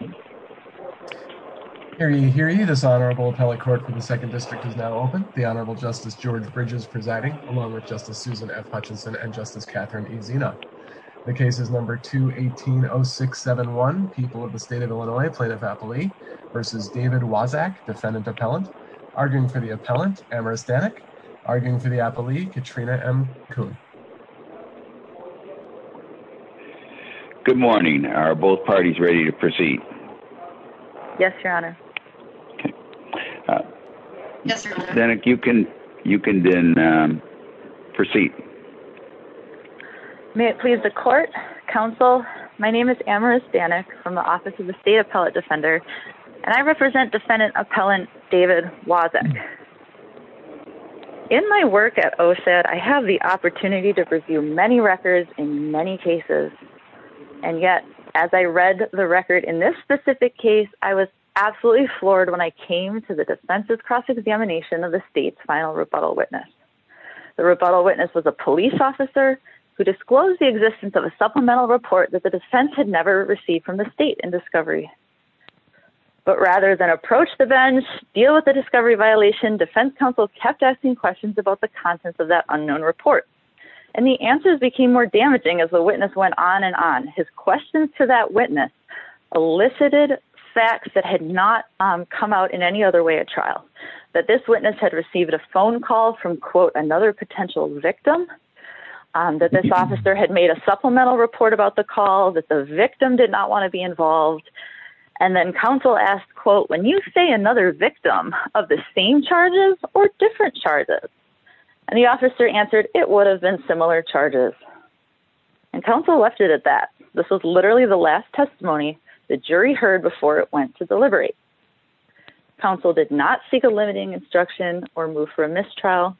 The case is number 2, 180671, People of the State of Illinois, Plaintiff Appellee, versus David Waszak, defendant appellant. Arguing for the appellant, Amherst Dannick. Arguing for the appellee, Katrina M. Coon. Good morning, are both parties ready to proceed? Yes, your honor. Dannick, you can then proceed. May it please the court, counsel, my name is Amherst Dannick from the Office of the State Appellate Defender, and I represent defendant appellant David Waszak. In my work at OSHAD, I have the opportunity to review many records in many cases. And yet, as I read the record in this specific case, I was absolutely floored when I came to the defense's cross-examination of the state's final rebuttal witness. The rebuttal witness was a police officer who disclosed the existence of a supplemental report that the defense had never received from the state in discovery. But rather than approach the bench, deal with the discovery violation, defense counsel kept asking questions about the contents of that unknown report. And the answers became more damaging as the witness went on and on. His questions to that witness elicited facts that had not come out in any other way at trial. That this witness had received a phone call from, quote, another potential victim. That this officer had made a supplemental report about the call, that the victim did not want to be involved. And then counsel asked, quote, when you say another victim of the same charges or different charges? And the officer answered, it would have been similar charges. And counsel left it at that. This was literally the last testimony the jury heard before it went to deliberate. Counsel did not seek a limiting instruction or move for a mistrial.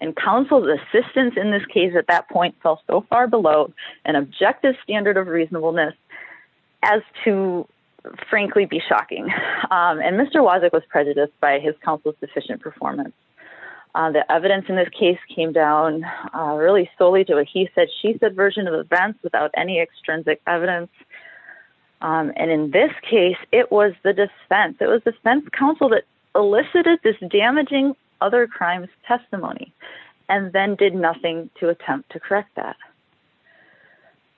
And counsel's assistance in this case at that point fell so far below an objective standard of reasonableness as to frankly be shocking. And Mr. Wozniak was prejudiced by his counsel's deficient performance. The evidence in this case came down really solely to what he said, she said version of events without any extrinsic evidence. And in this case, it was the defense. It was the defense counsel that elicited this damaging other crimes testimony and then did nothing to attempt to correct that.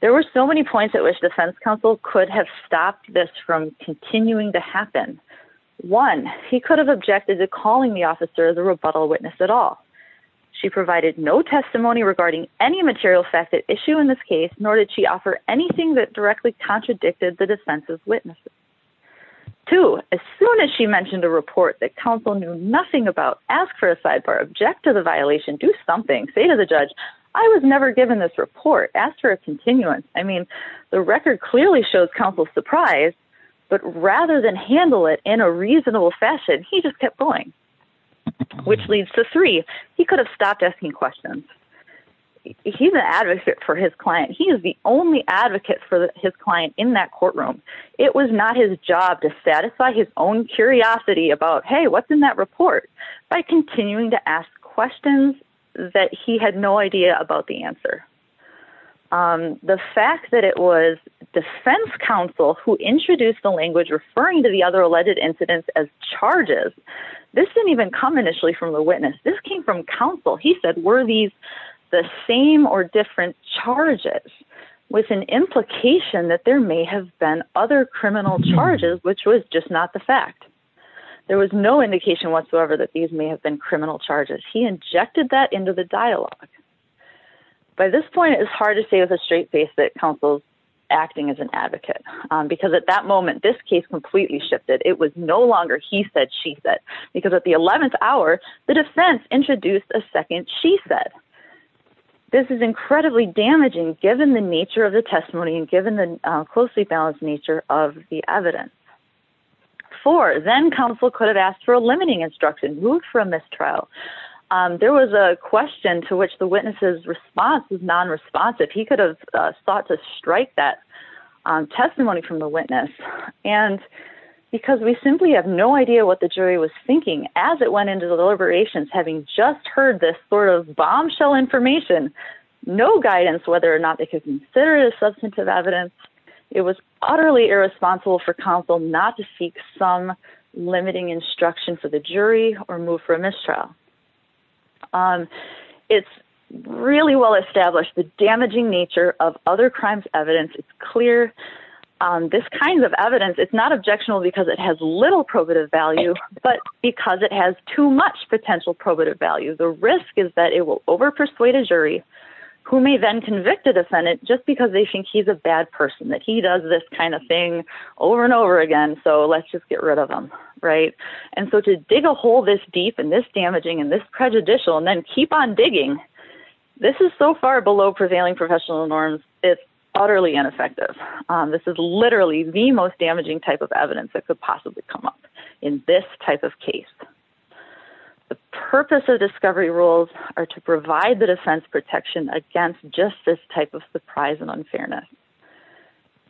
There were so many points at which defense counsel could have stopped this from continuing to happen. One, he could have objected to calling the officer the rebuttal witness at all. She provided no testimony regarding any material facet issue in this case, nor did she offer anything that directly contradicted the defense's witnesses. Two, as soon as she mentioned a report that counsel knew nothing about, ask for a sidebar, object to the violation, do something, say to the judge, I was never given this report, ask for a continuance. I mean, the record clearly shows counsel's surprise, but rather than handle it in a reasonable fashion, he just kept going. Which leads to three, he could have stopped asking questions. He's an advocate for his client. He is the only advocate for his client in that courtroom. It was not his job to satisfy his own curiosity about, hey, what's in that report, by continuing to ask questions that he had no idea about the answer. The fact that it was defense counsel who introduced the language referring to the other alleged incidents as charges, this didn't even come initially from the witness. This came from counsel. He said, were these the same or different charges with an implication that there may have been other criminal charges, which was just not the fact. There was no indication whatsoever that these may have been criminal charges. He injected that into the dialogue. By this point, it's hard to say with a straight face that counsel's acting as an advocate, because at that moment, this case completely shifted. It was no longer he said, she said, because at the 11th hour, the defense introduced a second she said. This is incredibly damaging given the nature of the testimony and given the closely balanced nature of the evidence. Four, then counsel could have asked for a limiting instruction, moot for a mistrial. There was a question to which the witnesses response was non responsive. He could have sought to strike that testimony from the witness. And because we simply have no idea what the jury was thinking as it went into the deliberations, having just heard this sort of bombshell information, no guidance, whether or not they could consider it as substantive evidence. It was utterly irresponsible for counsel not to seek some limiting instruction for the jury or move for a mistrial. It's really well established the damaging nature of other crimes evidence. It's clear this kind of evidence. It's not objectionable because it has little probative value, but because it has too much potential probative value. The risk is that it will over persuade a jury who may then convict a defendant just because they think he's a bad person, that he does this kind of thing over and over again. So let's just get rid of them. And so to dig a hole this deep and this damaging and this prejudicial and then keep on digging. This is so far below prevailing professional norms. It's utterly ineffective. This is literally the most damaging type of evidence that could possibly come up in this type of case. The purpose of discovery rules are to provide the defense protection against just this type of surprise and unfairness.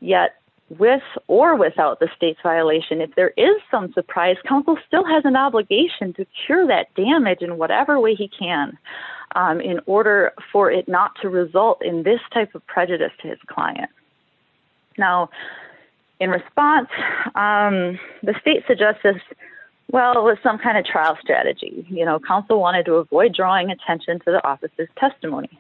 Yet with or without the state's violation, if there is some surprise, counsel still has an obligation to cure that damage in whatever way he can in order for it not to result in this type of prejudice to his client. Now, in response, the state suggests this, well, with some kind of trial strategy. You know, counsel wanted to avoid drawing attention to the office's testimony.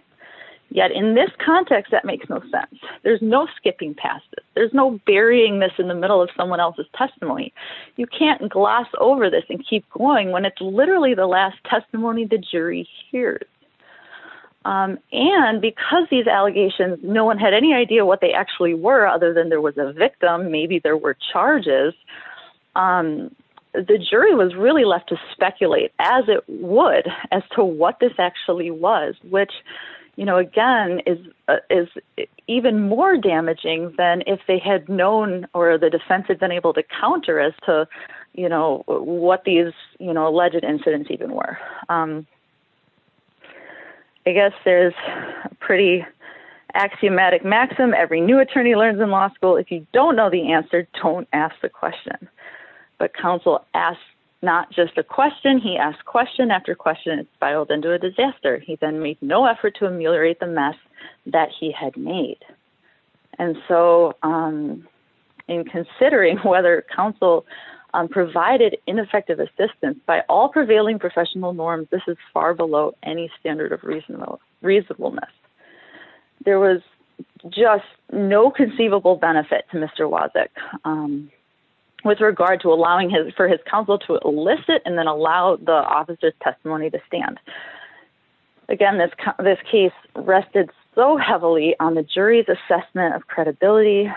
Yet in this context, that makes no sense. There's no skipping past it. There's no burying this in the middle of someone else's testimony. You can't gloss over this and keep going when it's literally the last testimony the jury hears. And because these allegations, no one had any idea what they actually were other than there was a victim. Maybe there were charges. The jury was really left to speculate as it would as to what this actually was, which, you know, again, is is even more damaging than if they had known or the defense had been able to counter as to, you know, what these, you know, alleged incidents even were. I guess there's a pretty axiomatic maxim. Every new attorney learns in law school. If you don't know the answer, don't ask the question. But counsel asked not just a question. He asked question after question, filed into a disaster. He then made no effort to ameliorate the mess that he had made. And so in considering whether counsel provided ineffective assistance by all prevailing professional norms, this is far below any standard of reasonable reasonableness. There was just no conceivable benefit to Mr. Wozniak with regard to allowing for his counsel to elicit and then allow the officer's testimony to stand. Again, this case rested so heavily on the jury's assessment of credibility,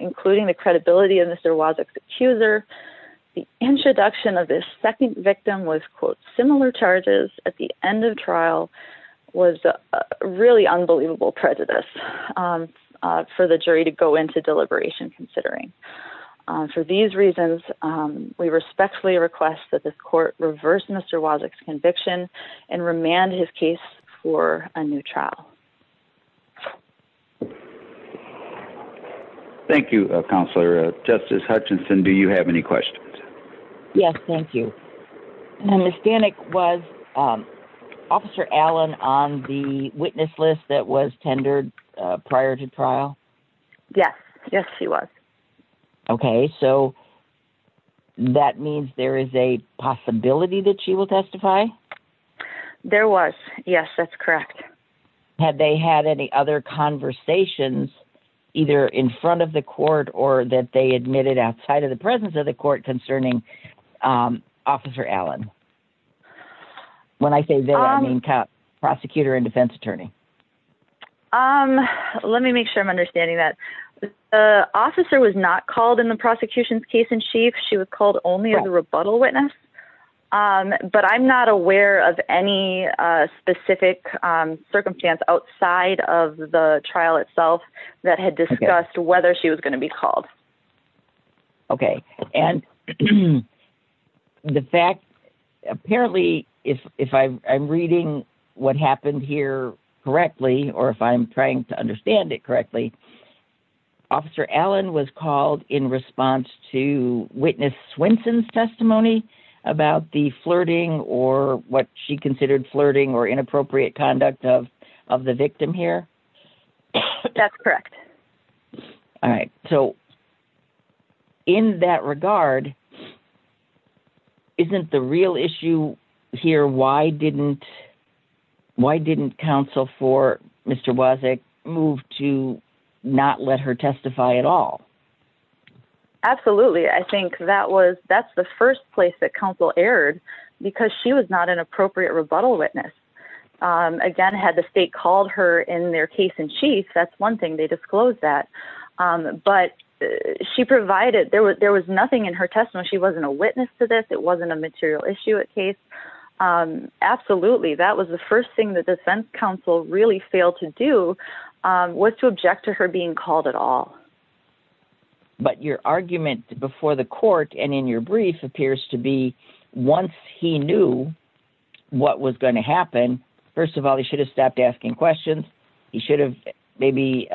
including the credibility of Mr. Wozniak's accuser. The introduction of this second victim was, quote, similar charges at the end of trial was really unbelievable prejudice for the jury to go into deliberation considering. For these reasons, we respectfully request that the court reverse Mr. Wozniak's conviction and remand his case for a new trial. Thank you, Counselor. Justice Hutchinson, do you have any questions? Yes. Thank you. Ms. Danik, was Officer Allen on the witness list that was tendered prior to trial? Yes. Yes, he was. Okay. So that means there is a possibility that she will testify? There was. Yes, that's correct. Had they had any other conversations either in front of the court or that they admitted outside of the presence of the court concerning Officer Allen? When I say they, I mean prosecutor and defense attorney. Let me make sure I'm understanding that. The officer was not called in the prosecution's case in chief. She was called only as a rebuttal witness. But I'm not aware of any specific circumstance outside of the trial itself that had discussed whether she was going to be called. Okay. And the fact, apparently, if I'm reading what happened here correctly, or if I'm trying to understand it correctly, Officer Allen was called in response to witness Swenson's testimony about the flirting or what she considered flirting or inappropriate conduct of the victim here? That's correct. All right. So in that regard, isn't the real issue here, why didn't counsel for Mr. Wozniak move to not let her testify at all? Absolutely. I think that's the first place that counsel erred because she was not an appropriate rebuttal witness. Again, had the state called her in their case in chief, that's one thing they disclosed that. But she provided, there was nothing in her testimony. She wasn't a witness to this. It wasn't a material issue at case. Absolutely. That was the first thing that the defense counsel really failed to do was to object to her being called at all. But your argument before the court and in your brief appears to be once he knew what was going to happen, first of all, he should have stopped asking questions. He should have maybe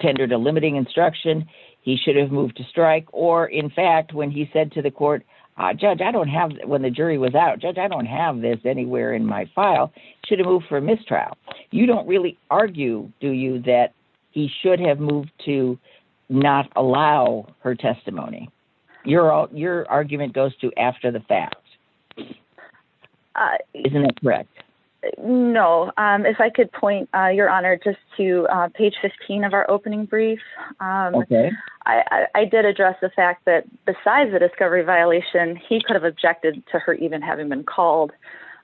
tendered a limiting instruction. He should have moved to strike. Or in fact, when he said to the court, judge, I don't have, when the jury was out, judge, I don't have this anywhere in my file. Should have moved for mistrial. You don't really argue, do you, that he should have moved to not allow her testimony? Your argument goes to after the fact. Isn't that correct? No. If I could point your honor just to page 15 of our opening brief. I did address the fact that besides the discovery violation, he could have objected to her even having been called.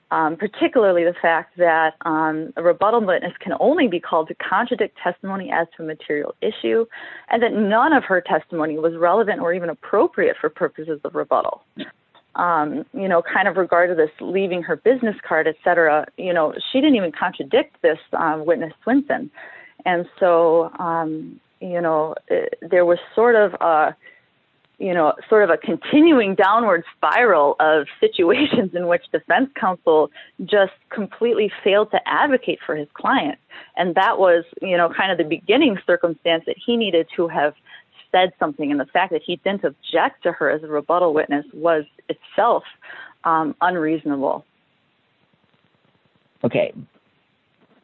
Particularly the fact that a rebuttal witness can only be called to contradict testimony as to a material issue. And that none of her testimony was relevant or even appropriate for purposes of rebuttal. You know, kind of regard to this leaving her business card, et cetera. You know, she didn't even contradict this witness Swinson. And so, you know, there was sort of a, you know, sort of a continuing downward spiral of situations in which defense counsel just completely failed to advocate for his client. And that was, you know, kind of the beginning circumstance that he needed to have said something. And the fact that he didn't object to her as a rebuttal witness was itself unreasonable. Okay.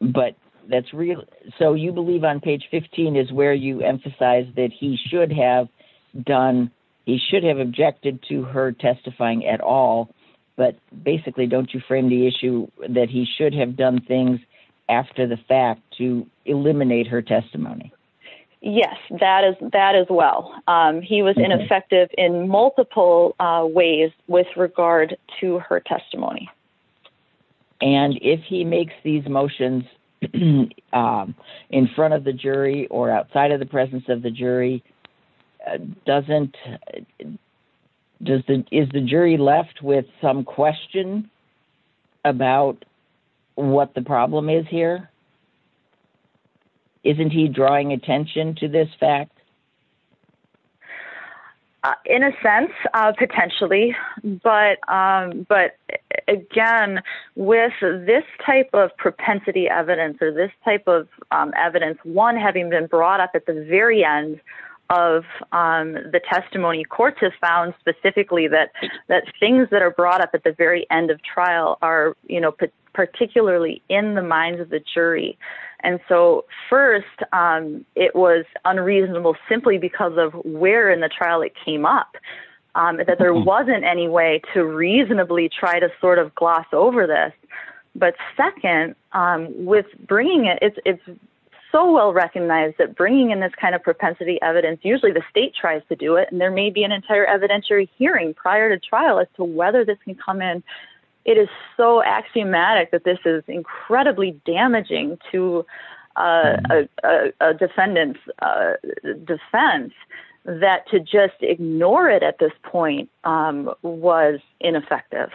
But that's real. So you believe on page 15 is where you emphasize that he should have done. He should have objected to her testifying at all. But basically, don't you frame the issue that he should have done things after the fact to eliminate her testimony? Yes, that is that as well. He was ineffective in multiple ways with regard to her testimony. And if he makes these motions in front of the jury or outside of the presence of the jury doesn't. Is the jury left with some question about what the problem is here? Isn't he drawing attention to this fact? In a sense, potentially, but but again, with this type of propensity evidence or this type of evidence, one having been brought up at the very end of the testimony, courts have found specifically that that things that are brought up at the very end of trial are, you know, particularly in the minds of the jury. And so, first, it was unreasonable simply because of where in the trial it came up, that there wasn't any way to reasonably try to sort of gloss over this. But second, with bringing it, it's so well recognized that bringing in this kind of propensity evidence, usually the state tries to do it and there may be an entire evidentiary hearing prior to trial as to whether this can come in. But it is so axiomatic that this is incredibly damaging to a defendant's defense that to just ignore it at this point was ineffective.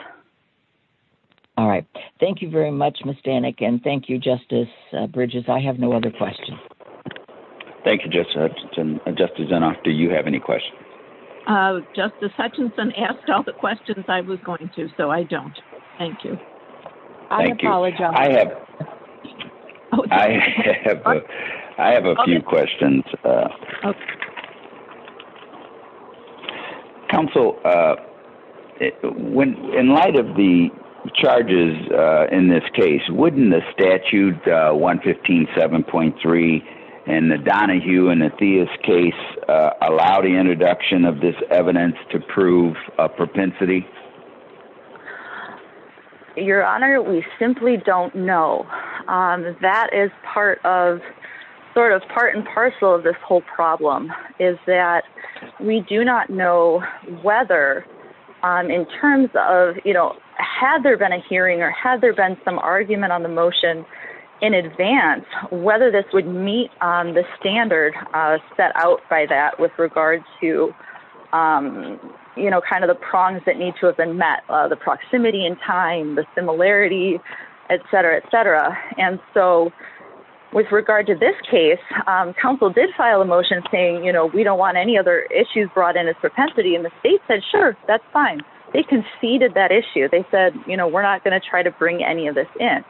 All right. Thank you very much, Ms. Danek. And thank you, Justice Bridges. I have no other questions. Thank you, Justice Hutchinson. Justice Zinoff, do you have any questions? Justice Hutchinson asked all the questions I was going to, so I don't. Thank you. Thank you. I have a few questions. Counsel, in light of the charges in this case, wouldn't the statute 115.7.3 and the Donahue and the Theis case allow the introduction of this evidence to prove a propensity? Your Honor, we simply don't know. That is part of, sort of part and parcel of this whole problem, is that we do not know whether, in terms of, you know, had there been a hearing or had there been some argument on the motion in advance, whether this would meet the standard set out by that with regard to, you know, kind of the prongs that need to be met. The proximity in time, the similarity, et cetera, et cetera. And so with regard to this case, counsel did file a motion saying, you know, we don't want any other issues brought in as propensity. And the state said, sure, that's fine. They conceded that issue. They said, you know, we're not going to try to bring any of this in.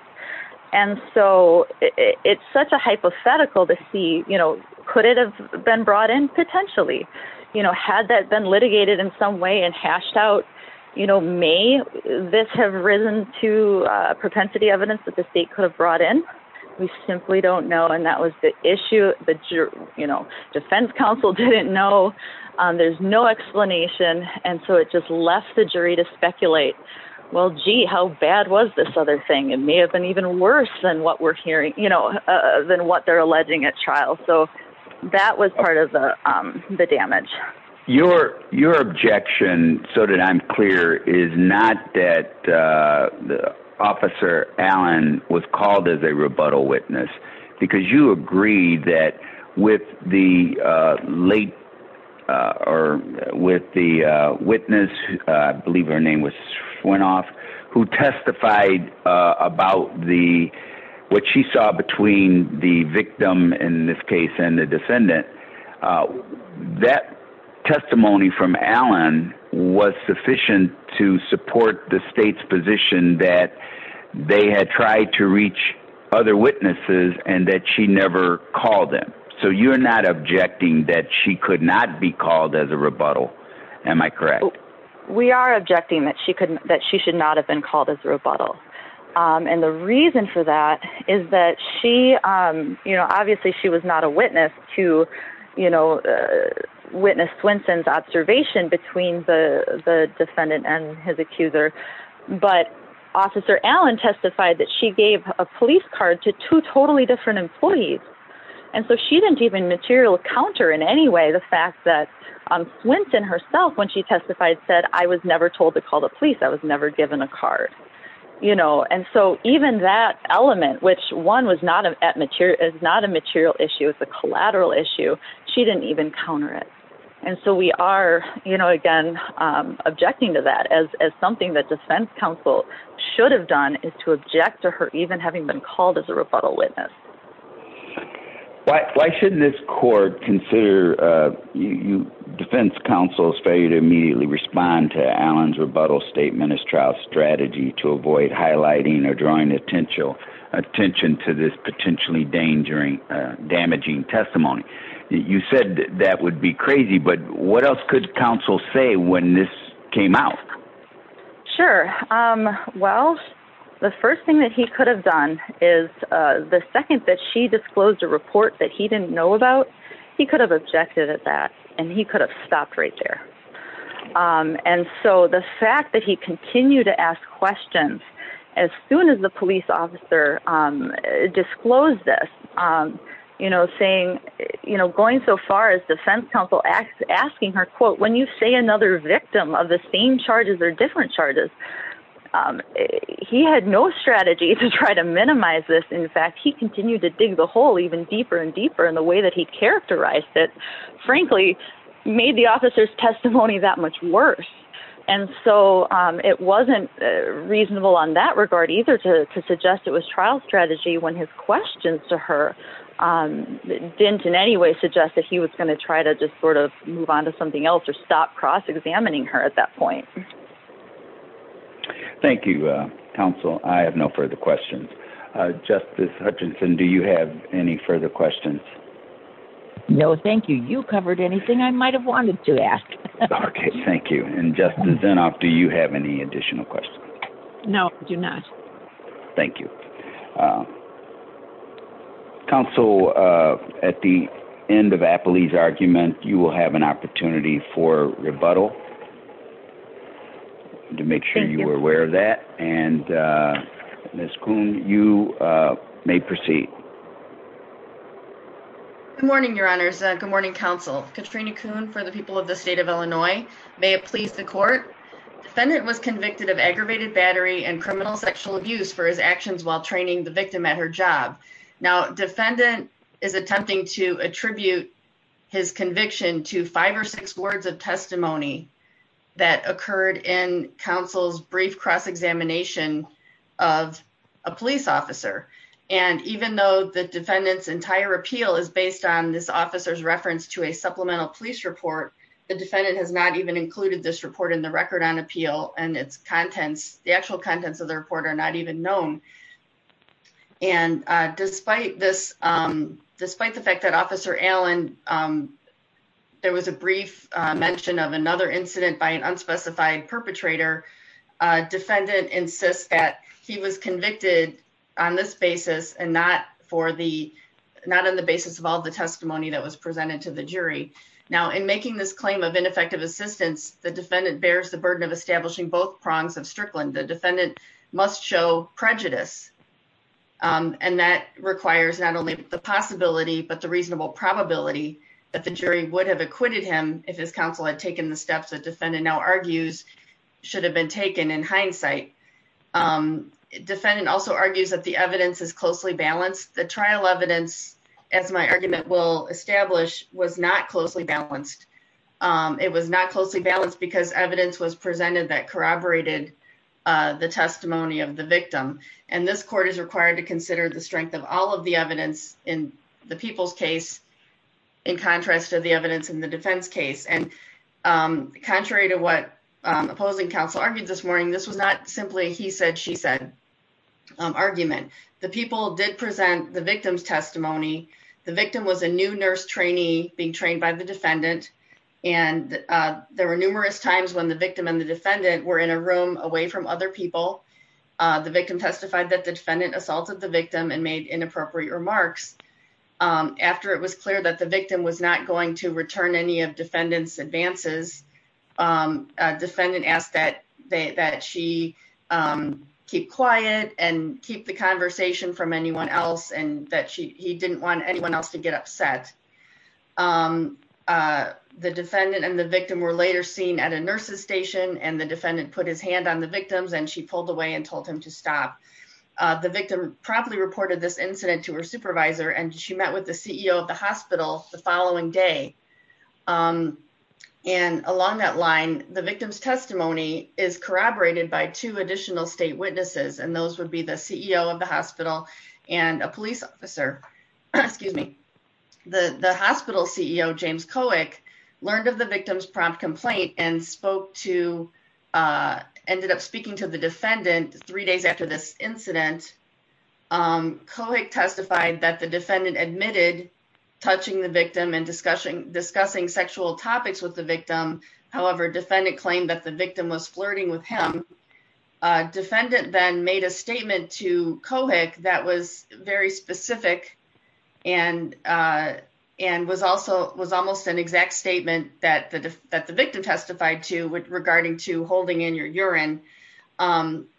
And so it's such a hypothetical to see, you know, could it have been brought in? Potentially. You know, had that been litigated in some way and hashed out, you know, may this have risen to propensity evidence that the state could have brought in? We simply don't know. And that was the issue that, you know, defense counsel didn't know. There's no explanation. And so it just left the jury to speculate. Well, gee, how bad was this other thing? It may have been even worse than what we're hearing, you know, than what they're alleging at trial. So that was part of the damage. Your objection, so that I'm clear, is not that Officer Allen was called as a rebuttal witness because you agree that with the late or with the witness, I believe her name was went off, who testified about the what she saw between the victim in this case and the descendant. That testimony from Allen was sufficient to support the state's position that they had tried to reach other witnesses and that she never called them. So you're not objecting that she could not be called as a rebuttal. Am I correct? We are objecting that she could, that she should not have been called as a rebuttal. And the reason for that is that she, you know, obviously she was not a witness to, you know, witness Swinson's observation between the defendant and his accuser. But Officer Allen testified that she gave a police card to two totally different employees. And so she didn't even material counter in any way the fact that Swinson herself, when she testified, said, I was never told to call the police. I was never given a card. You know, and so even that element, which one was not a material, is not a material issue. It's a collateral issue. She didn't even counter it. And so we are, you know, again, objecting to that as something that defense counsel should have done is to object to her even having been called as a rebuttal witness. Why shouldn't this court consider defense counsel's failure to immediately respond to Allen's rebuttal statement as trial strategy to avoid highlighting or drawing attention to this potentially damaging testimony? You said that would be crazy, but what else could counsel say when this came out? Sure. Well, the first thing that he could have done is the second that she disclosed a report that he didn't know about, he could have objected at that and he could have stopped right there. And so the fact that he continued to ask questions as soon as the police officer disclosed this, you know, saying, you know, going so far as defense counsel asking her, quote, when you say another victim of the same charges or different charges, he had no strategy to try to minimize this. In fact, he continued to dig the hole even deeper and deeper in the way that he characterized it, frankly, made the officer's testimony that much worse. And so it wasn't reasonable on that regard either to suggest it was trial strategy when his questions to her didn't in any way suggest that he was going to try to just sort of move on to something else or stop cross-examining her at that point. Thank you, counsel. I have no further questions. Justice Hutchinson, do you have any further questions? No, thank you. You covered anything I might have wanted to ask. Okay, thank you. And Justice Zinoff, do you have any additional questions? No, I do not. Thank you. Counsel, at the end of Apley's argument, you will have an opportunity for rebuttal to make sure you are aware of that. And Ms. Kuhn, you may proceed. Good morning, Your Honors. Good morning, counsel. Katrina Kuhn for the people of the state of Illinois. May it please the court. Defendant was convicted of aggravated battery and criminal sexual abuse for his actions while training the victim at her job. Now defendant is attempting to attribute his conviction to five or six words of testimony that occurred in counsel's brief cross-examination of a police officer. And even though the defendant's entire appeal is based on this officer's reference to a supplemental police report, the defendant has not even included this report in the record on appeal and its contents, the actual contents of the report are not even known. And despite this, despite the fact that Officer Allen, there was a brief mention of another incident by an unspecified perpetrator, defendant insists that he was convicted on this basis and not for the, not on the basis of all the testimony that was presented to the jury. Now in making this claim of ineffective assistance, the defendant bears the burden of establishing both prongs of Strickland. The defendant must show prejudice. And that requires not only the possibility, but the reasonable probability that the jury would have acquitted him if his counsel had taken the steps that defendant now argues should have been taken in hindsight. Defendant also argues that the evidence is closely balanced. The trial evidence, as my argument will establish, was not closely balanced. It was not closely balanced because evidence was presented that corroborated the testimony of the victim. And this court is required to consider the strength of all of the evidence in the people's case in contrast to the evidence in the defense case. And contrary to what opposing counsel argued this morning, this was not simply he said, she said argument. The people did present the victim's testimony. The victim was a new nurse trainee being trained by the defendant. And there were numerous times when the victim and the defendant were in a room away from other people. The victim testified that the defendant assaulted the victim and made inappropriate remarks. After it was clear that the victim was not going to return any of defendants advances, a defendant asked that she keep quiet and keep the conversation from anyone else and that he didn't want anyone else to get upset. The defendant and the victim were later seen at a nurse's station and the defendant put his hand on the victim's and she pulled away and told him to stop. The victim properly reported this incident to her supervisor and she met with the CEO of the hospital the following day. And along that line, the victim's testimony is corroborated by two additional state witnesses and those would be the CEO of the hospital and a police officer. The hospital CEO, James Kohik, learned of the victim's prompt complaint and ended up speaking to the defendant three days after this incident. Kohik testified that the defendant admitted touching the victim and discussing sexual topics with the victim. However, defendant claimed that the victim was flirting with him. Defendant then made a statement to Kohik that was very specific and was almost an exact statement that the victim testified to regarding to holding in your urine. And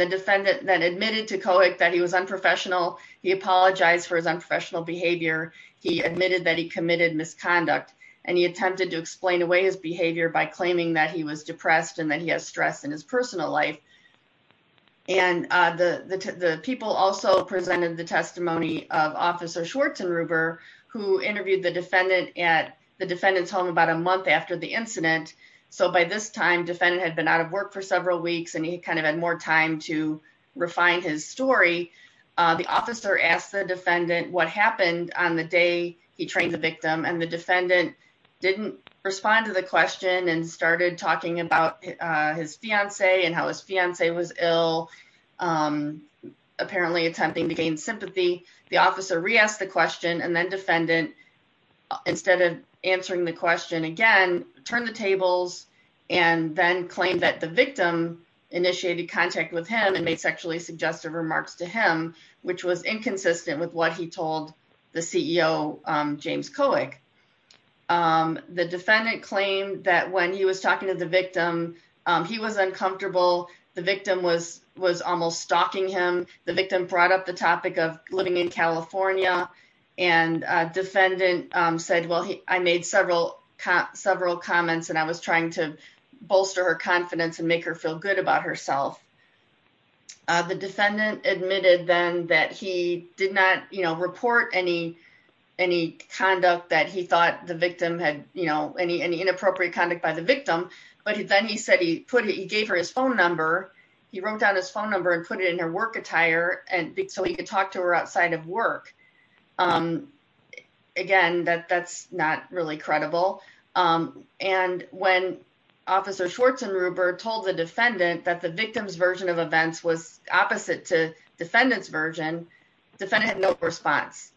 the defendant then admitted to Kohik that he was unprofessional. He apologized for his unprofessional behavior. He admitted that he committed misconduct and he attempted to explain away his behavior by claiming that he was depressed and that he has stress in his personal life. And the people also presented the testimony of Officer Schwartzenruber who interviewed the defendant at the defendant's home about a month after the incident. So by this time, defendant had been out of work for several weeks and he kind of had more time to refine his story. The officer asked the defendant what happened on the day he trained the victim and the defendant didn't respond to the question and started talking about his fiance and how his fiance was ill, apparently attempting to gain sympathy. The officer re-asked the question and then defendant, instead of answering the question again, turned the tables and then claimed that the victim initiated contact with him and made sexually suggestive remarks to him, which was inconsistent with what he told the CEO, James Kohik. The defendant claimed that when he was talking to the victim, he was uncomfortable. The victim was almost stalking him. The victim brought up the topic of living in California and defendant said, well, I made several comments and I was trying to bolster her confidence and make her feel good about herself. The defendant admitted then that he did not, you know, report any conduct that he thought the victim had, you know, any inappropriate conduct by the victim. But then he said he gave her his phone number. He wrote down his phone number and put it in her work attire so he could talk to her outside of work. Again, that's not really credible. And when Officer Schwartz and Rupert told the defendant that the victim's version of events was opposite to defendant's version, defendant had no response.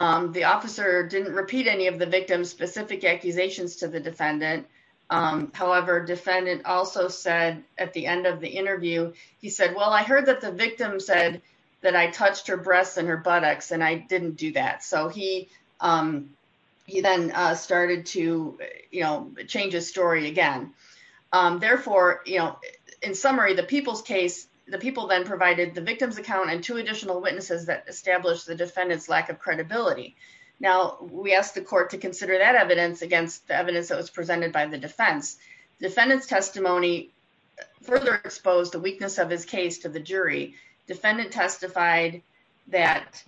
The officer didn't repeat any of the victim's specific accusations to the defendant. However, defendant also said at the end of the interview, he said, well, I heard that the victim said that I touched her breasts and her buttocks and I didn't do that. So he then started to, you know, change his story again. Therefore, you know, in summary, the people's case, the people then provided the victim's account and two additional witnesses that established the defendant's lack of credibility. Now, we asked the court to consider that evidence against the evidence that was presented by the defense. Defendant's testimony further exposed the weakness of his case to the jury. Defendant testified that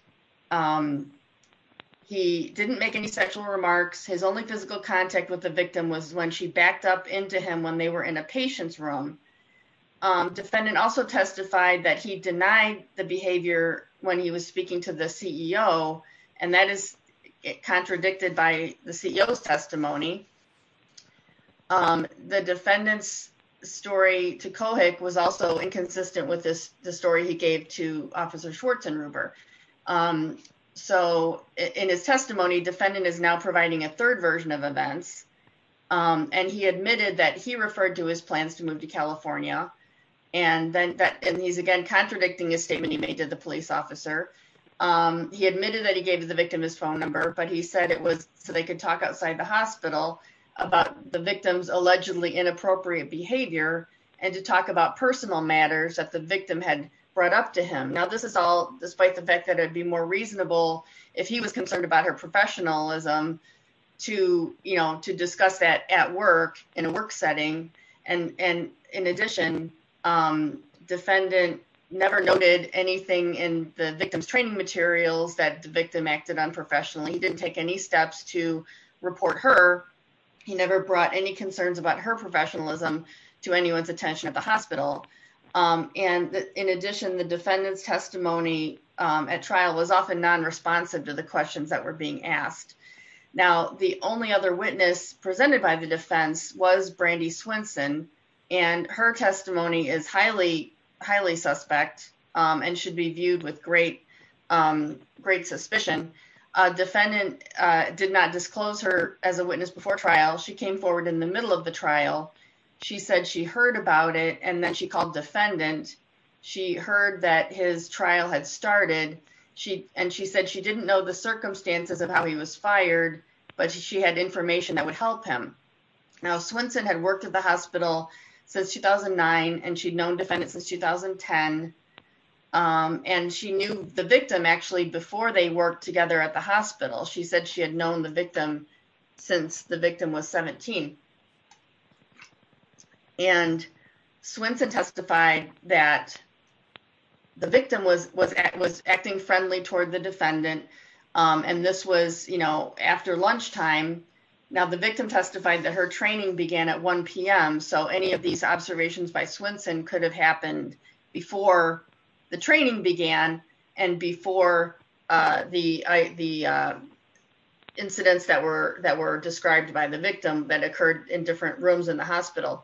he didn't make any sexual remarks. His only physical contact with the victim was when she backed up into him when they were in a patient's room. Defendant also testified that he denied the behavior when he was speaking to the CEO, and that is contradicted by the CEO's testimony. The defendant's story to Kohik was also inconsistent with this, the story he gave to Officer Schwartz and Ruber. So, in his testimony, defendant is now providing a third version of events, and he admitted that he referred to his plans to move to California. And he's again contradicting his statement he made to the police officer. He admitted that he gave the victim his phone number, but he said it was so they could talk outside the hospital about the victim's allegedly inappropriate behavior and to talk about personal matters that the victim had brought up to him. Now, this is all despite the fact that it'd be more reasonable if he was concerned about her professionalism to, you know, to discuss that at work in a work setting. And in addition, defendant never noted anything in the victim's training materials that the victim acted unprofessionally. He didn't take any steps to report her. He never brought any concerns about her professionalism to anyone's attention at the hospital. And in addition, the defendant's testimony at trial was often non-responsive to the questions that were being asked. Now, the only other witness presented by the defense was Brandy Swinson, and her testimony is highly, highly suspect and should be viewed with great suspicion. Defendant did not disclose her as a witness before trial. She came forward in the middle of the trial. She said she heard about it, and then she called defendant. She heard that his trial had started, and she said she didn't know the circumstances of how he was fired, but she had information that would help him. Now, Swinson had worked at the hospital since 2009, and she'd known defendant since 2010. And she knew the victim actually before they worked together at the hospital. She said she had known the victim since the victim was 17. And Swinson testified that the victim was acting friendly toward the defendant, and this was, you know, after lunchtime. Now, the victim testified that her training began at 1 p.m., so any of these observations by Swinson could have happened before the training began, and before the incidents that were described by the victim that occurred in different rooms in the hospital.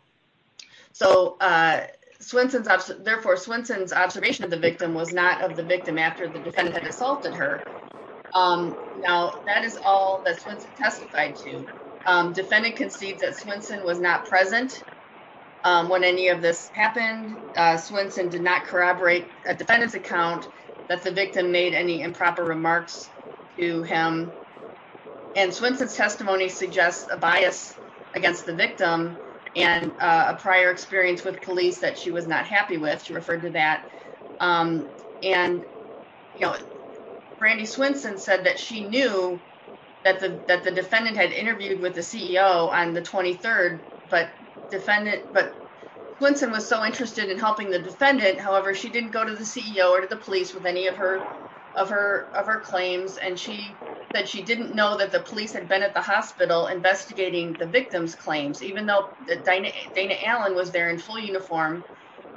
So, therefore, Swinson's observation of the victim was not of the victim after the defendant had assaulted her. Now, that is all that Swinson testified to. Defendant concedes that Swinson was not present when any of this happened. Swinson did not corroborate a defendant's account that the victim made any improper remarks to him. And Swinson's testimony suggests a bias against the victim and a prior experience with police that she was not happy with. She referred to that. And, you know, Brandi Swinson said that she knew that the defendant had interviewed with the CEO on the 23rd, but Swinson was so interested in helping the defendant, however, she didn't go to the CEO or to the police with any of her claims, and she said she didn't know that the police had been at the hospital investigating the victim's claims, even though Dana Allen was there in full uniform,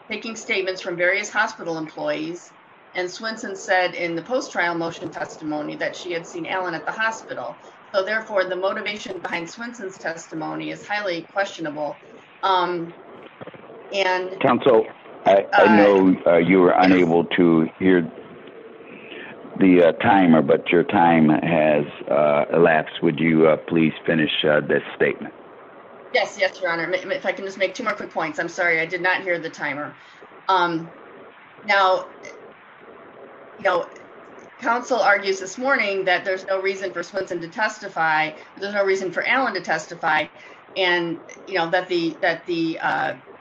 taking statements from various hospital employees, and Swinson said in the post-trial motion testimony that she had seen Allen at the hospital. So, therefore, the motivation behind Swinson's testimony is highly questionable. Counsel, I know you were unable to hear the timer, but your time has elapsed. Would you please finish this statement? Yes, yes, Your Honor. If I can just make two more quick points. I'm sorry, I did not hear the timer. Now, you know, counsel argues this morning that there's no reason for Swinson to testify, there's no reason for Allen to testify, and, you know, that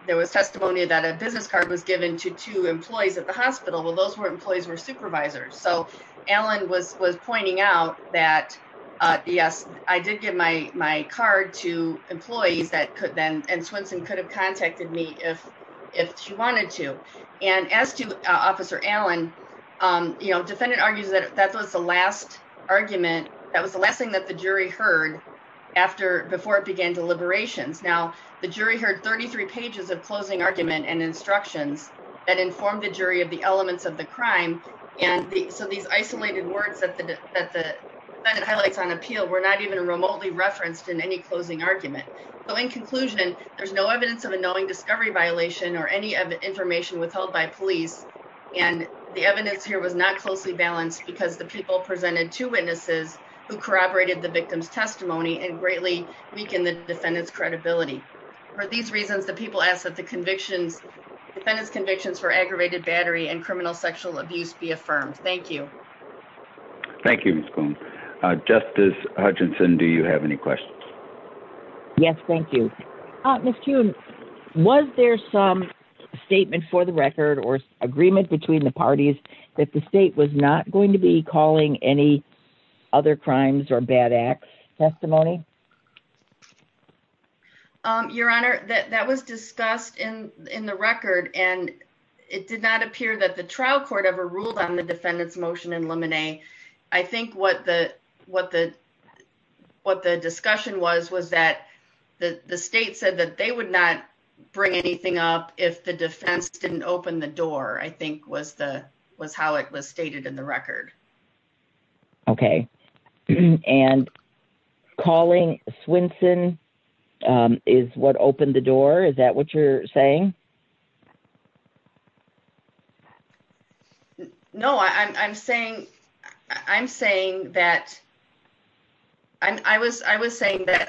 there was testimony that a business card was given to two employees at the hospital. Well, those employees were supervisors, so Allen was pointing out that, yes, I did give my card to employees, and Swinson could have contacted me if she wanted to. And as to Officer Allen, you know, the defendant argues that that was the last argument, that was the last thing that the jury heard before it began deliberations. Now, the jury heard 33 pages of closing argument and instructions that informed the jury of the elements of the crime, and so these isolated words that the defendant highlights on appeal were not even remotely referenced in any closing argument. So, in conclusion, there's no evidence of a knowing discovery violation or any information withheld by police, and the evidence here was not closely balanced because the people presented two witnesses who corroborated the victim's testimony and greatly weakened the defendant's credibility. For these reasons, the people ask that the defendant's convictions for aggravated battery and criminal sexual abuse be affirmed. Thank you. Thank you, Ms. Boone. Justice Hutchinson, do you have any questions? Yes, thank you. Ms. Kuhn, was there some statement for the record or agreement between the parties that the state was not going to be calling any other crimes or bad acts testimony? Your Honor, that was discussed in the record, and it did not appear that the trial court ever ruled on the defendant's motion in Lemonet. I think what the discussion was was that the state said that they would not bring anything up if the defense didn't open the door, I think was how it was stated in the record. Okay. And calling Swinson is what opened the door? Is that what you're saying? No, I'm saying that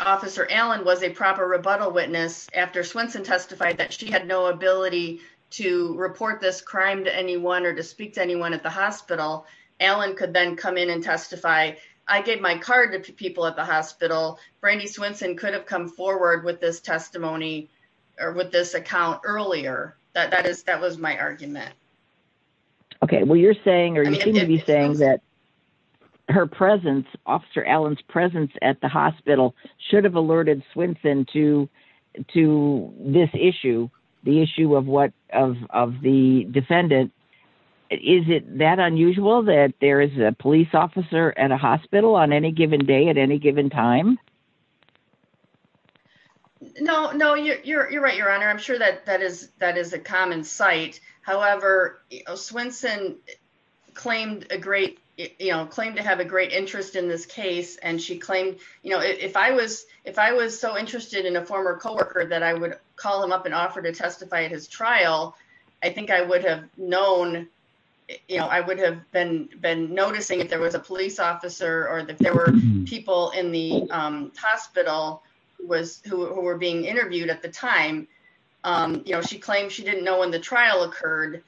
Officer Allen was a proper rebuttal witness after Swinson testified that she had no ability to report this crime to anyone or to speak to anyone at the hospital. Allen could then come in and testify. I gave my card to people at the hospital. Brandy Swinson could have come forward with this testimony or with this account earlier. That was my argument. Okay. Well, you're saying or you seem to be saying that her presence, Officer Allen's presence at the hospital should have alerted Swinson to this issue, the issue of the defendant. Is it that unusual that there is a police officer at a hospital on any given day at any given time? No, you're right, Your Honor. I'm sure that is a common sight. However, Swinson claimed to have a great interest in this case. If I was so interested in a former coworker that I would call him up and offer to testify at his trial, I think I would have known, I would have been noticing if there was a police officer or if there were people in the hospital who were being interviewed at the time. She claimed she didn't know when the trial occurred,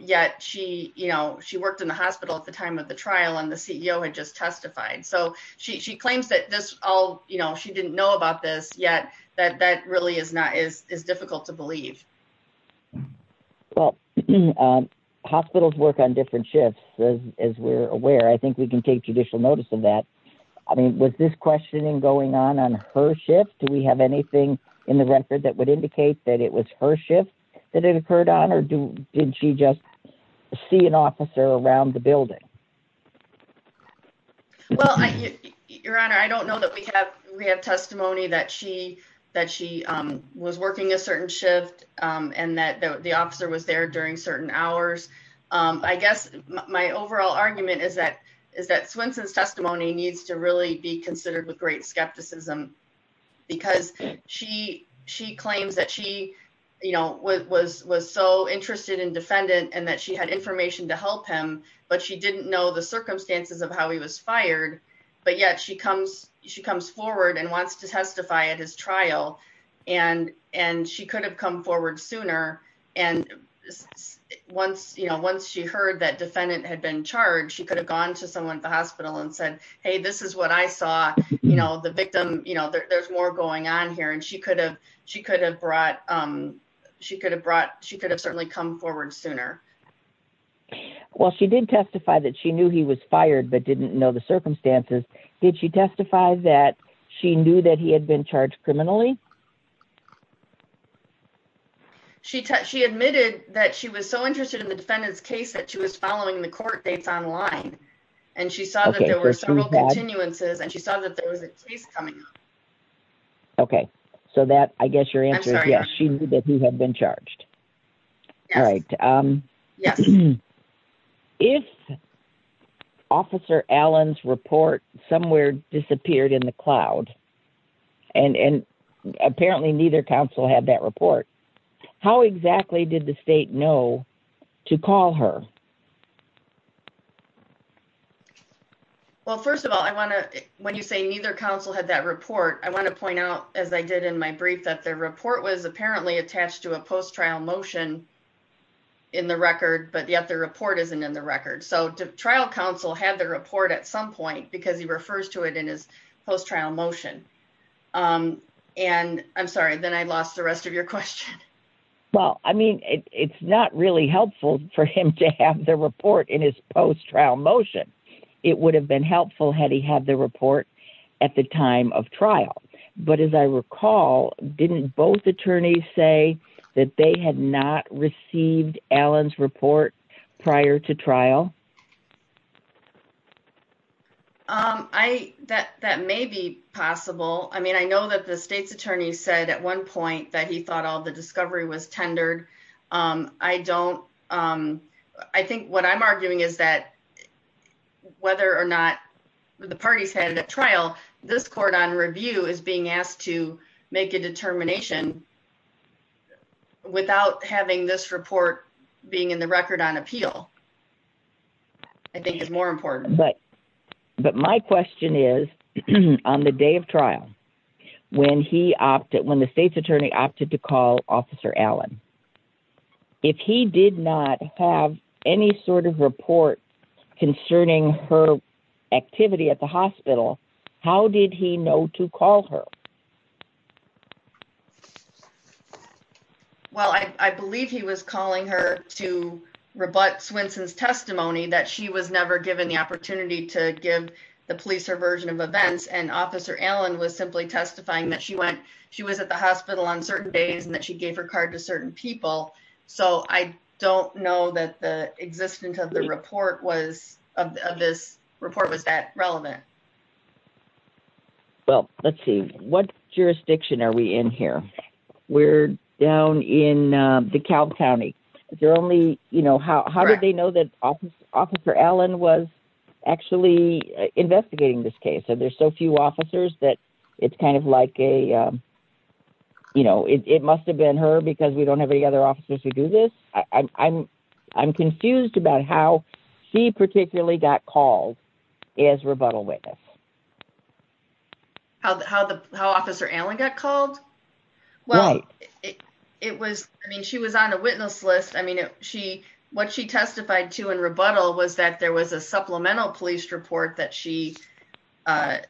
yet she worked in the hospital at the time of the trial and the CEO had just testified. So she claims that she didn't know about this, yet that really is difficult to believe. Well, hospitals work on different shifts, as we're aware. I think we can take judicial notice of that. I mean, was this questioning going on on her shift? Do we have anything in the record that would indicate that it was her shift that it occurred on? Or did she just see an officer around the building? Well, Your Honor, I don't know that we have testimony that she was working a certain shift and that the officer was there during certain hours. I guess my overall argument is that Swinson's testimony needs to really be considered with great skepticism. Because she claims that she was so interested in defendant and that she had information to help him, but she didn't know the circumstances of how he was fired. But yet she comes forward and wants to testify at his trial, and she could have come forward sooner. And once she heard that defendant had been charged, she could have gone to someone at the hospital and said, Hey, this is what I saw, you know, the victim, you know, there's more going on here. And she could have certainly come forward sooner. Well, she did testify that she knew he was fired, but didn't know the circumstances. Did she testify that she knew that he had been charged criminally? She admitted that she was so interested in the defendant's case that she was following the court dates online. And she saw that there were several continuances and she saw that there was a case coming up. Okay, so that I guess your answer is yes, she knew that he had been charged. All right. If Officer Allen's report somewhere disappeared in the cloud, and apparently neither council had that report, how exactly did the state know to call her? Well, first of all, I want to when you say neither council had that report. I want to point out, as I did in my brief that their report was apparently attached to a post trial motion. In the record, but yet the report isn't in the record. So to trial council had the report at some point because he refers to it in his post trial motion. And I'm sorry, then I lost the rest of your question. Well, I mean, it's not really helpful for him to have the report in his post trial motion. It would have been helpful had he had the report. At the time of trial. But as I recall, didn't both attorneys say that they had not received Allen's report prior to trial. I that that may be possible. I mean, I know that the state's attorney said at one point that he thought all the discovery was tendered. I don't. I think what I'm arguing is that whether or not the parties had a trial this court on review is being asked to make a determination without having this report being in the record on appeal. I think it's more important. But, but my question is, on the day of trial when he opted when the state's attorney opted to call Officer Allen. If he did not have any sort of report concerning her activity at the hospital. How did he know to call her Well, I believe he was calling her to rebut Swenson's testimony that she was never given the opportunity to give the police or version of events and Officer Allen was simply testifying that she went She was at the hospital on certain days and that she gave her card to certain people. So I don't know that the existence of the report was of this report was that relevant. Well, let's see what jurisdiction. Are we in here. We're down in the Cal County. They're only, you know, how, how did they know that Officer Allen was actually investigating this case. So there's so few officers that it's kind of like a You know, it must have been her because we don't have any other officers to do this. I'm, I'm confused about how she particularly got called as rebuttal witness. How the how the how Officer Allen got called Well, it was, I mean, she was on a witness list. I mean, she what she testified to and rebuttal was that there was a supplemental police report that she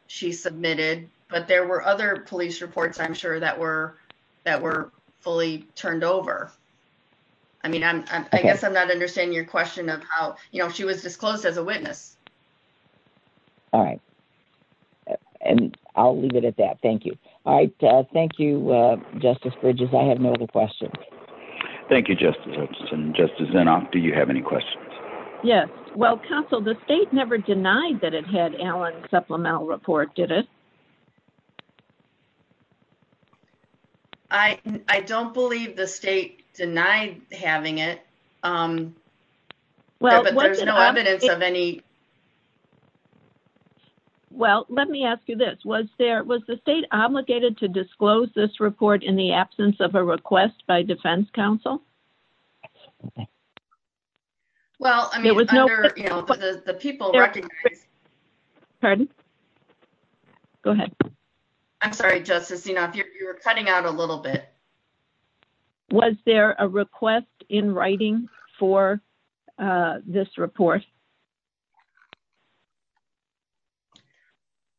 She submitted, but there were other police reports. I'm sure that were that were fully turned over. I mean, I guess I'm not understanding your question of how you know she was disclosed as a witness. All right. And I'll leave it at that. Thank you. All right. Thank you, Justice Bridges. I have no other questions. Thank you, Justice. Justice Zinoff, do you have any questions. Yes. Well, counsel, the state never denied that it had Allen supplemental report, did it? I don't believe the state denied having it. Well, there's no evidence of any Well, let me ask you this. Was there was the state obligated to disclose this report in the absence of a request by defense counsel. Well, there was no People recognize Pardon. Go ahead. I'm sorry, Justice Zinoff, you're cutting out a little bit. Was there a request in writing for this report.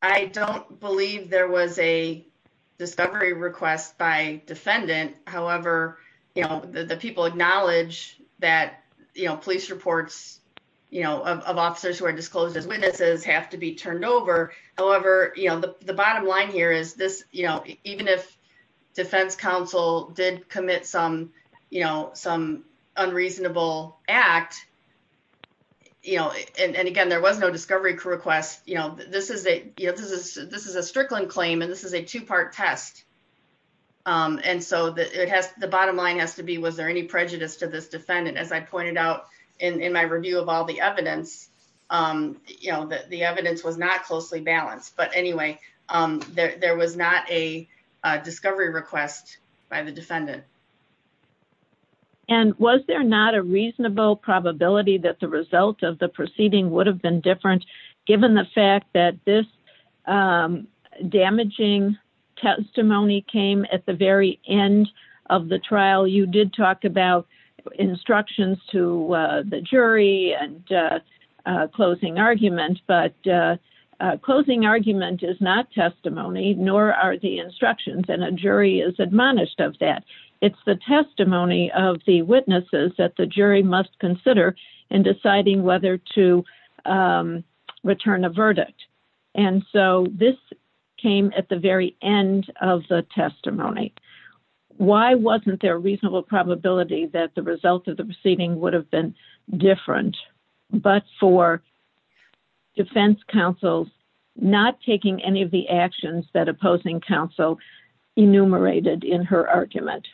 I don't believe there was a discovery request by defendant. However, you know, the people acknowledge that, you know, police reports. You know, of officers who are disclosed as witnesses have to be turned over. However, you know, the bottom line here is this, you know, even if defense counsel did commit some, you know, some unreasonable act. You know, and again, there was no discovery request, you know, this is a, you know, this is this is a strickling claim. And this is a two part test. And so that it has the bottom line has to be, was there any prejudice to this defendant, as I pointed out in my review of all the evidence. You know that the evidence was not closely balanced. But anyway, there was not a discovery request by the defendant. And was there not a reasonable probability that the result of the proceeding would have been different, given the fact that this Damaging testimony came at the very end of the trial. You did talk about instructions to the jury and closing argument but Closing argument is not testimony, nor are the instructions and a jury is admonished of that. It's the testimony of the witnesses that the jury must consider in deciding whether to Return a verdict. And so this came at the very end of the testimony. Why wasn't there reasonable probability that the result of the proceeding would have been different, but for Defense counsel's not taking any of the actions that opposing counsel enumerated in her argument.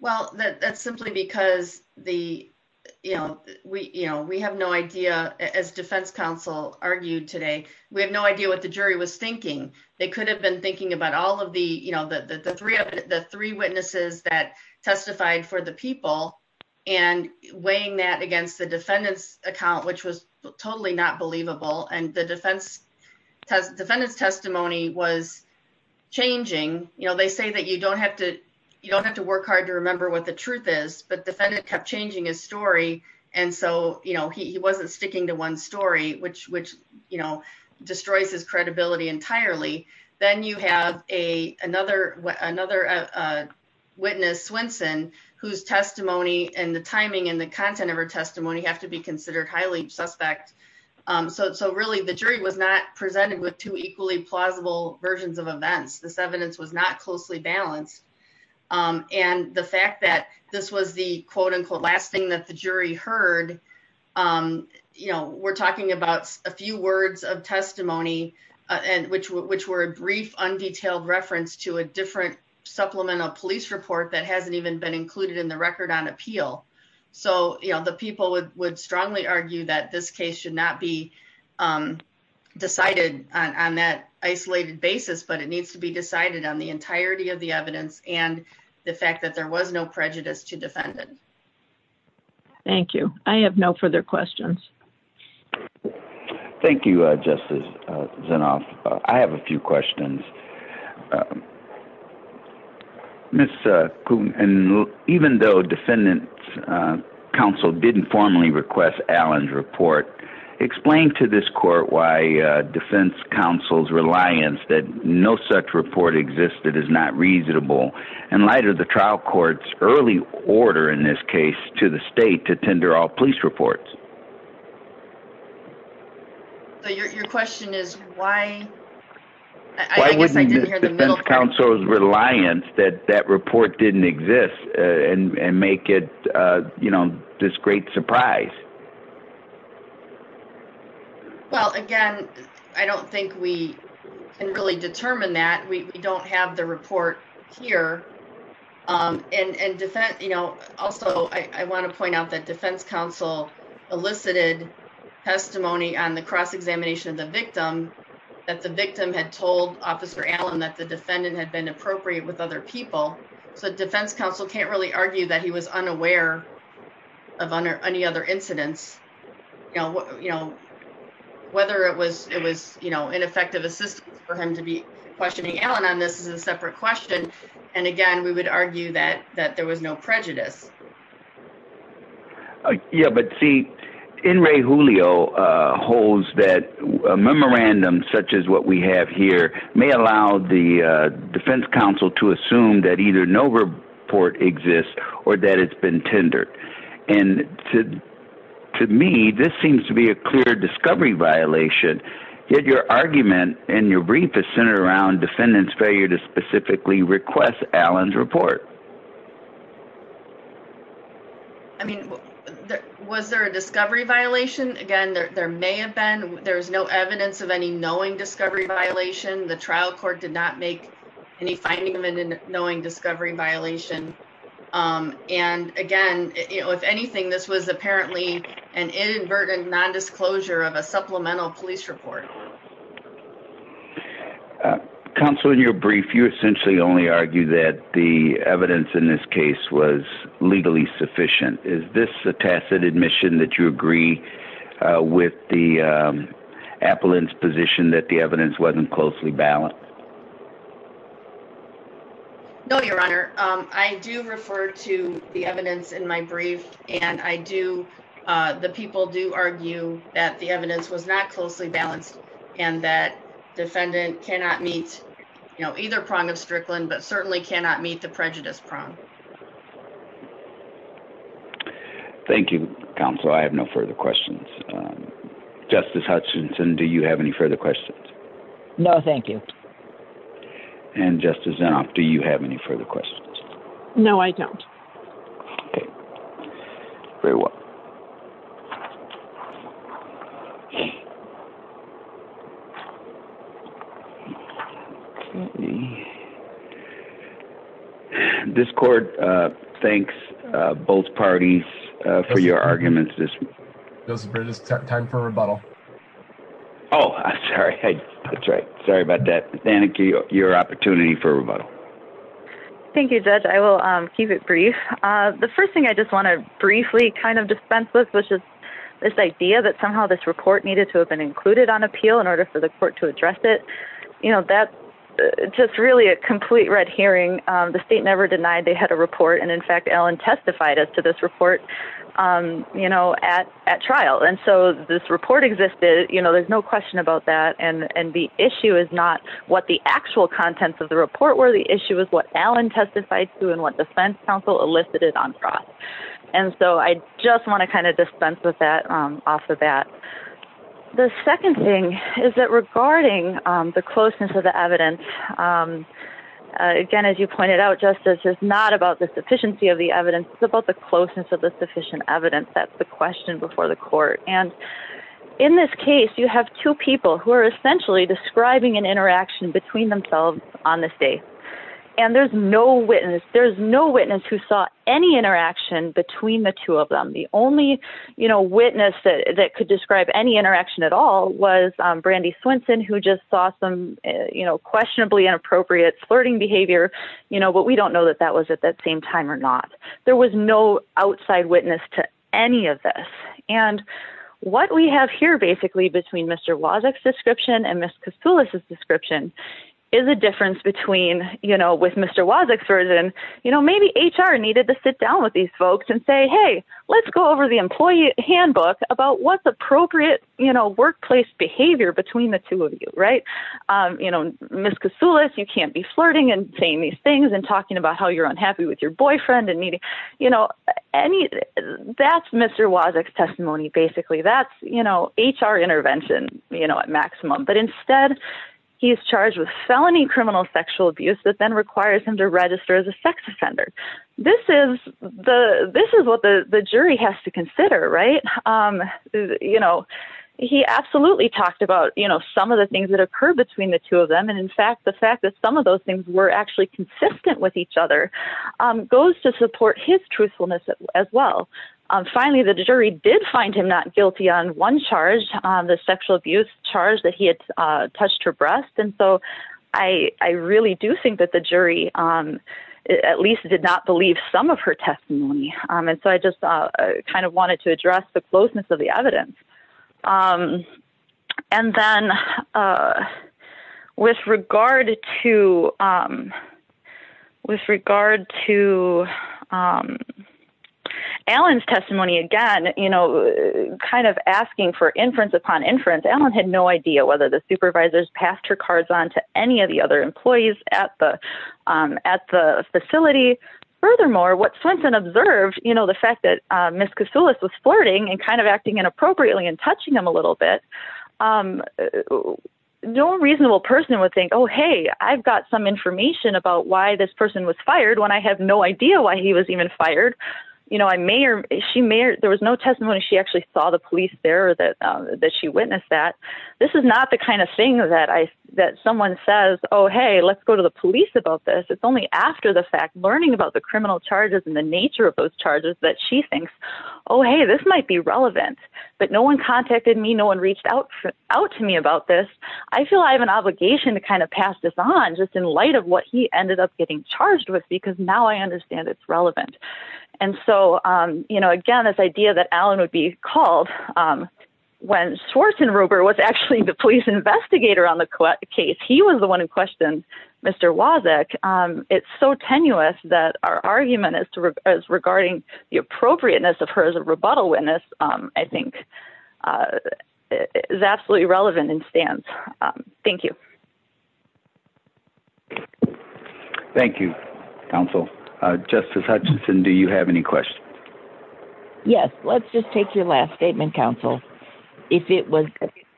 Well, that's simply because the, you know, we, you know, we have no idea as defense counsel argued today. We have no idea what the jury was thinking. They could have been thinking about all of the, you know, the three of the three witnesses that testified for the people and weighing that against the defendant's account, which was totally not believable and the defense. Defendant's testimony was changing, you know, they say that you don't have to, you don't have to work hard to remember what the truth is, but defendant kept changing his story. And so, you know, he wasn't sticking to one story which which, you know, destroys his credibility entirely. Then you have a another another Witness Swenson whose testimony and the timing and the content of her testimony have to be considered highly suspect. So, so really the jury was not presented with two equally plausible versions of events. This evidence was not closely balanced. And the fact that this was the quote unquote last thing that the jury heard You know, we're talking about a few words of testimony and which which were a brief undetailed reference to a different supplemental police report that hasn't even been included in the record on appeal. So, you know, the people would would strongly argue that this case should not be Decided on that isolated basis, but it needs to be decided on the entirety of the evidence and the fact that there was no prejudice to defend it. Thank you. I have no further questions. Thank you, Justice. I have a few questions. Miss. And even though defendant. Council didn't formally request Alan's report explain to this court why defense counsels reliance that no such report existed is not reasonable and lighter the trial courts early order in this case to the state to tender all police reports. Your question is why I wouldn't Counsel's reliance that that report didn't exist and make it, you know, this great surprise. Well, again, I don't think we can really determine that we don't have the report here. And defense, you know, also, I want to point out that defense counsel elicited testimony on the cross examination of the victim. That the victim had told officer Alan that the defendant had been appropriate with other people. So defense counsel can't really argue that he was unaware Of any other incidents, you know, you know, whether it was, it was, you know, ineffective assistance for him to be questioning Alan on this is a separate question. And again, we would argue that that there was no prejudice. Yeah, but see in Ray Julio holds that memorandum, such as what we have here may allow the defense counsel to assume that either no report exists or that it's been tendered and To me, this seems to be a clear discovery violation your argument and your brief is centered around defendants failure to specifically request Alan's report. I mean, was there a discovery violation. Again, there may have been. There's no evidence of any knowing discovery violation. The trial court did not make any finding them in knowing discovery violation. And again, you know, if anything, this was apparently an inadvertent nondisclosure of a supplemental police report. Counsel in your brief you essentially only argue that the evidence in this case was legally sufficient. Is this a tacit admission that you agree with the appellants position that the evidence wasn't closely balanced. No, Your Honor, I do refer to the evidence in my brief and I do the people do argue that the evidence was not closely balanced and that defendant cannot meet, you know, either prong of Strickland, but certainly cannot meet the prejudice prong. Thank you, Council. I have no further questions. Justice Hutchinson. Do you have any further questions. No, thank you. And just as now, do you have any further questions. No, I don't. This court. Thanks, both parties for your arguments this time for rebuttal. Oh, sorry. That's right. Sorry about that. Thank you. Your opportunity for rebuttal. Thank you, Judge. I will keep it brief. The first thing I just want to briefly kind of dispense with, which is this idea that somehow this report needed to have been included on appeal in order for the court to address it. You know, that's just really a complete red herring. The state never denied they had a report. And in fact, Alan testified as to this report, you know, at trial. And so this report existed, you know, there's no question about that. And the issue is not what the actual contents of the report were. The issue is what Alan testified to and what defense counsel elicited on fraud. And so I just want to kind of dispense with that off of that. The second thing is that regarding the closeness of the evidence, again, as you pointed out, justice is not about the sufficiency of the evidence about the closeness of the sufficient evidence. That's the question before the court. And in this case, you have two people who are essentially describing an interaction between themselves on this day. And there's no witness. There's no witness who saw any interaction between the two of them. The only, you know, witness that could describe any interaction at all was Brandy Swinson, who just saw some, you know, questionably inappropriate flirting behavior. You know, but we don't know that that was at that same time or not. There was no outside witness to any of this. And what we have here, basically, between Mr. Wozniak's description and Ms. Kasulis' description is a difference between, you know, with Mr. Wozniak's version. You know, maybe HR needed to sit down with these folks and say, hey, let's go over the employee handbook about what's appropriate, you know, workplace behavior between the two of you, right? You know, Ms. Kasulis, you can't be flirting and saying these things and talking about how you're unhappy with your boyfriend and needing, you know, any, that's Mr. Wozniak's testimony, basically. That's, you know, HR intervention, you know, at maximum. But instead, he is charged with felony criminal sexual abuse that then requires him to register as a sex offender. This is what the jury has to consider, right? You know, he absolutely talked about, you know, some of the things that occur between the two of them. And in fact, the fact that some of those things were actually consistent with each other goes to support his truthfulness as well. Finally, the jury did find him not guilty on one charge, the sexual abuse charge that he had touched her breast. And so I really do think that the jury at least did not believe some of her testimony. And so I just kind of wanted to address the closeness of the evidence. And then with regard to, with regard to Allen's testimony, again, you know, kind of asking for inference upon inference. Allen had no idea whether the supervisors passed her cards on to any of the other employees at the, at the facility. Furthermore, what Swenson observed, you know, the fact that Ms. Kasulis was flirting and kind of acting inappropriately and touching him a little bit. No reasonable person would think, oh, hey, I've got some information about why this person was fired when I have no idea why he was even fired. You know, I may or she may or there was no testimony. She actually saw the police there that that she witnessed that. This is not the kind of thing that I, that someone says, oh, hey, let's go to the police about this. It's only after the fact, learning about the criminal charges and the nature of those charges that she thinks, oh, hey, this might be relevant. But no one contacted me. No one reached out to me about this. I feel I have an obligation to kind of pass this on just in light of what he ended up getting charged with, because now I understand it's relevant. And so, you know, again, this idea that Alan would be called when Swanson Ruber was actually the police investigator on the case. He was the one who questioned Mr. Wozzeck. It's so tenuous that our argument is regarding the appropriateness of her as a rebuttal witness, I think, is absolutely relevant in stance. Thank you. Thank you, counsel. Justice Hutchinson, do you have any questions? Yes. Let's just take your last statement, counsel. If it was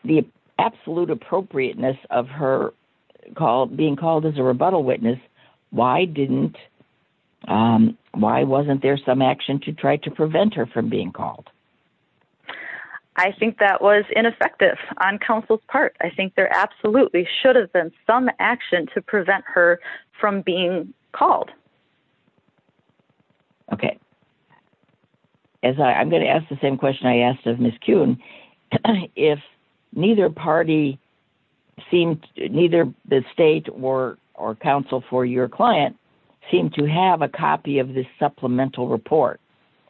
the absolute appropriateness of her called being called as a rebuttal witness. Why didn't why wasn't there some action to try to prevent her from being called? I think that was ineffective on counsel's part. I think there absolutely should have been some action to prevent her from being called. Okay. I'm going to ask the same question I asked of Ms. Kuhn. If neither party seemed neither the state or or counsel for your client seemed to have a copy of this supplemental report.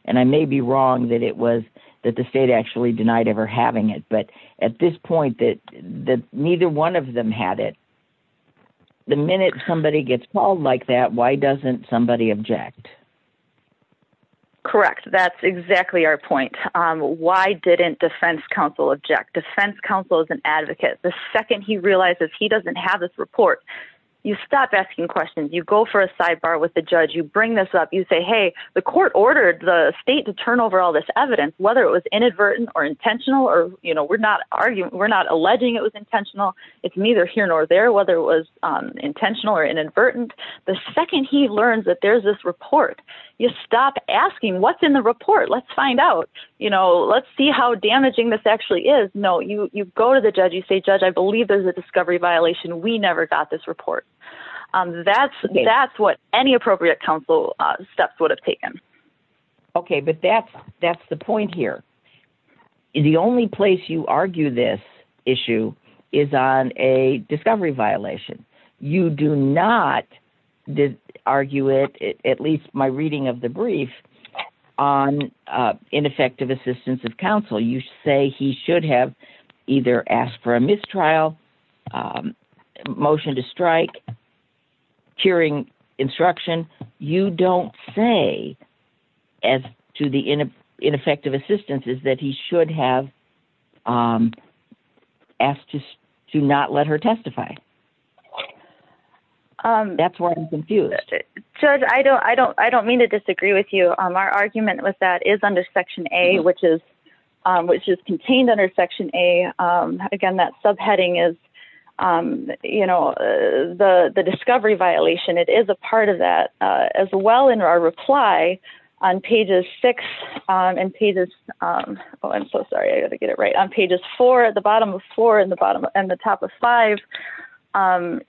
And I may be wrong that it was that the state actually denied ever having it. But at this point, that neither one of them had it. The minute somebody gets called like that, why doesn't somebody object? Correct. That's exactly our point. Why didn't defense counsel object? Defense counsel is an advocate. The second he realizes he doesn't have this report, you stop asking questions. You go for a sidebar with the judge. You bring this up. You say, hey, the court ordered the state to turn over all this evidence, whether it was inadvertent or intentional. Or, you know, we're not arguing. We're not alleging it was intentional. It's neither here nor there, whether it was intentional or inadvertent. The second he learns that there's this report, you stop asking what's in the report. Let's find out, you know, let's see how damaging this actually is. No, you go to the judge. You say, judge, I believe there's a discovery violation. We never got this report. That's that's what any appropriate counsel steps would have taken. Okay, but that's that's the point here. The only place you argue this issue is on a discovery violation. You do not argue it, at least my reading of the brief, on ineffective assistance of counsel. You say he should have either asked for a mistrial motion to strike. Hearing instruction, you don't say as to the ineffective assistance is that he should have asked us to not let her testify. That's where I'm confused. Judge, I don't, I don't, I don't mean to disagree with you. Our argument with that is under Section A, which is, which is contained under Section A. Again, that subheading is, you know, the discovery violation. It is a part of that as well in our reply on pages six and pages. Oh, I'm so sorry. I got to get it right on pages four at the bottom of four in the bottom and the top of five.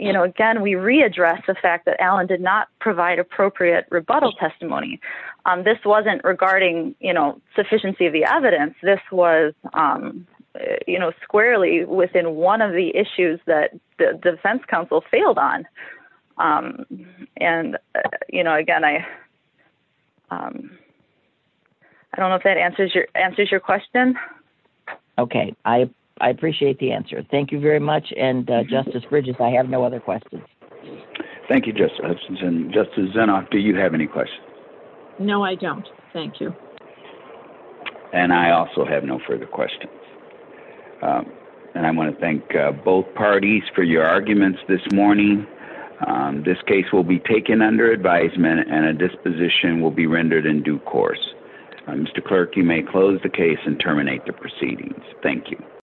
You know, again, we readdress the fact that Alan did not provide appropriate rebuttal testimony. This wasn't regarding, you know, sufficiency of the evidence. This was, you know, squarely within one of the issues that the defense counsel failed on. And, you know, again, I I don't know if that answers your question. Okay. I appreciate the answer. Thank you very much. And Justice Bridges, I have no other questions. Thank you, Justice Hutchinson. Justice Zinoff, do you have any questions? No, I don't. Thank you. And I also have no further questions. And I want to thank both parties for your arguments this morning. This case will be taken under advisement and a disposition will be rendered in due course. Mr. Clerk, you may close the case and terminate the proceedings. Thank you.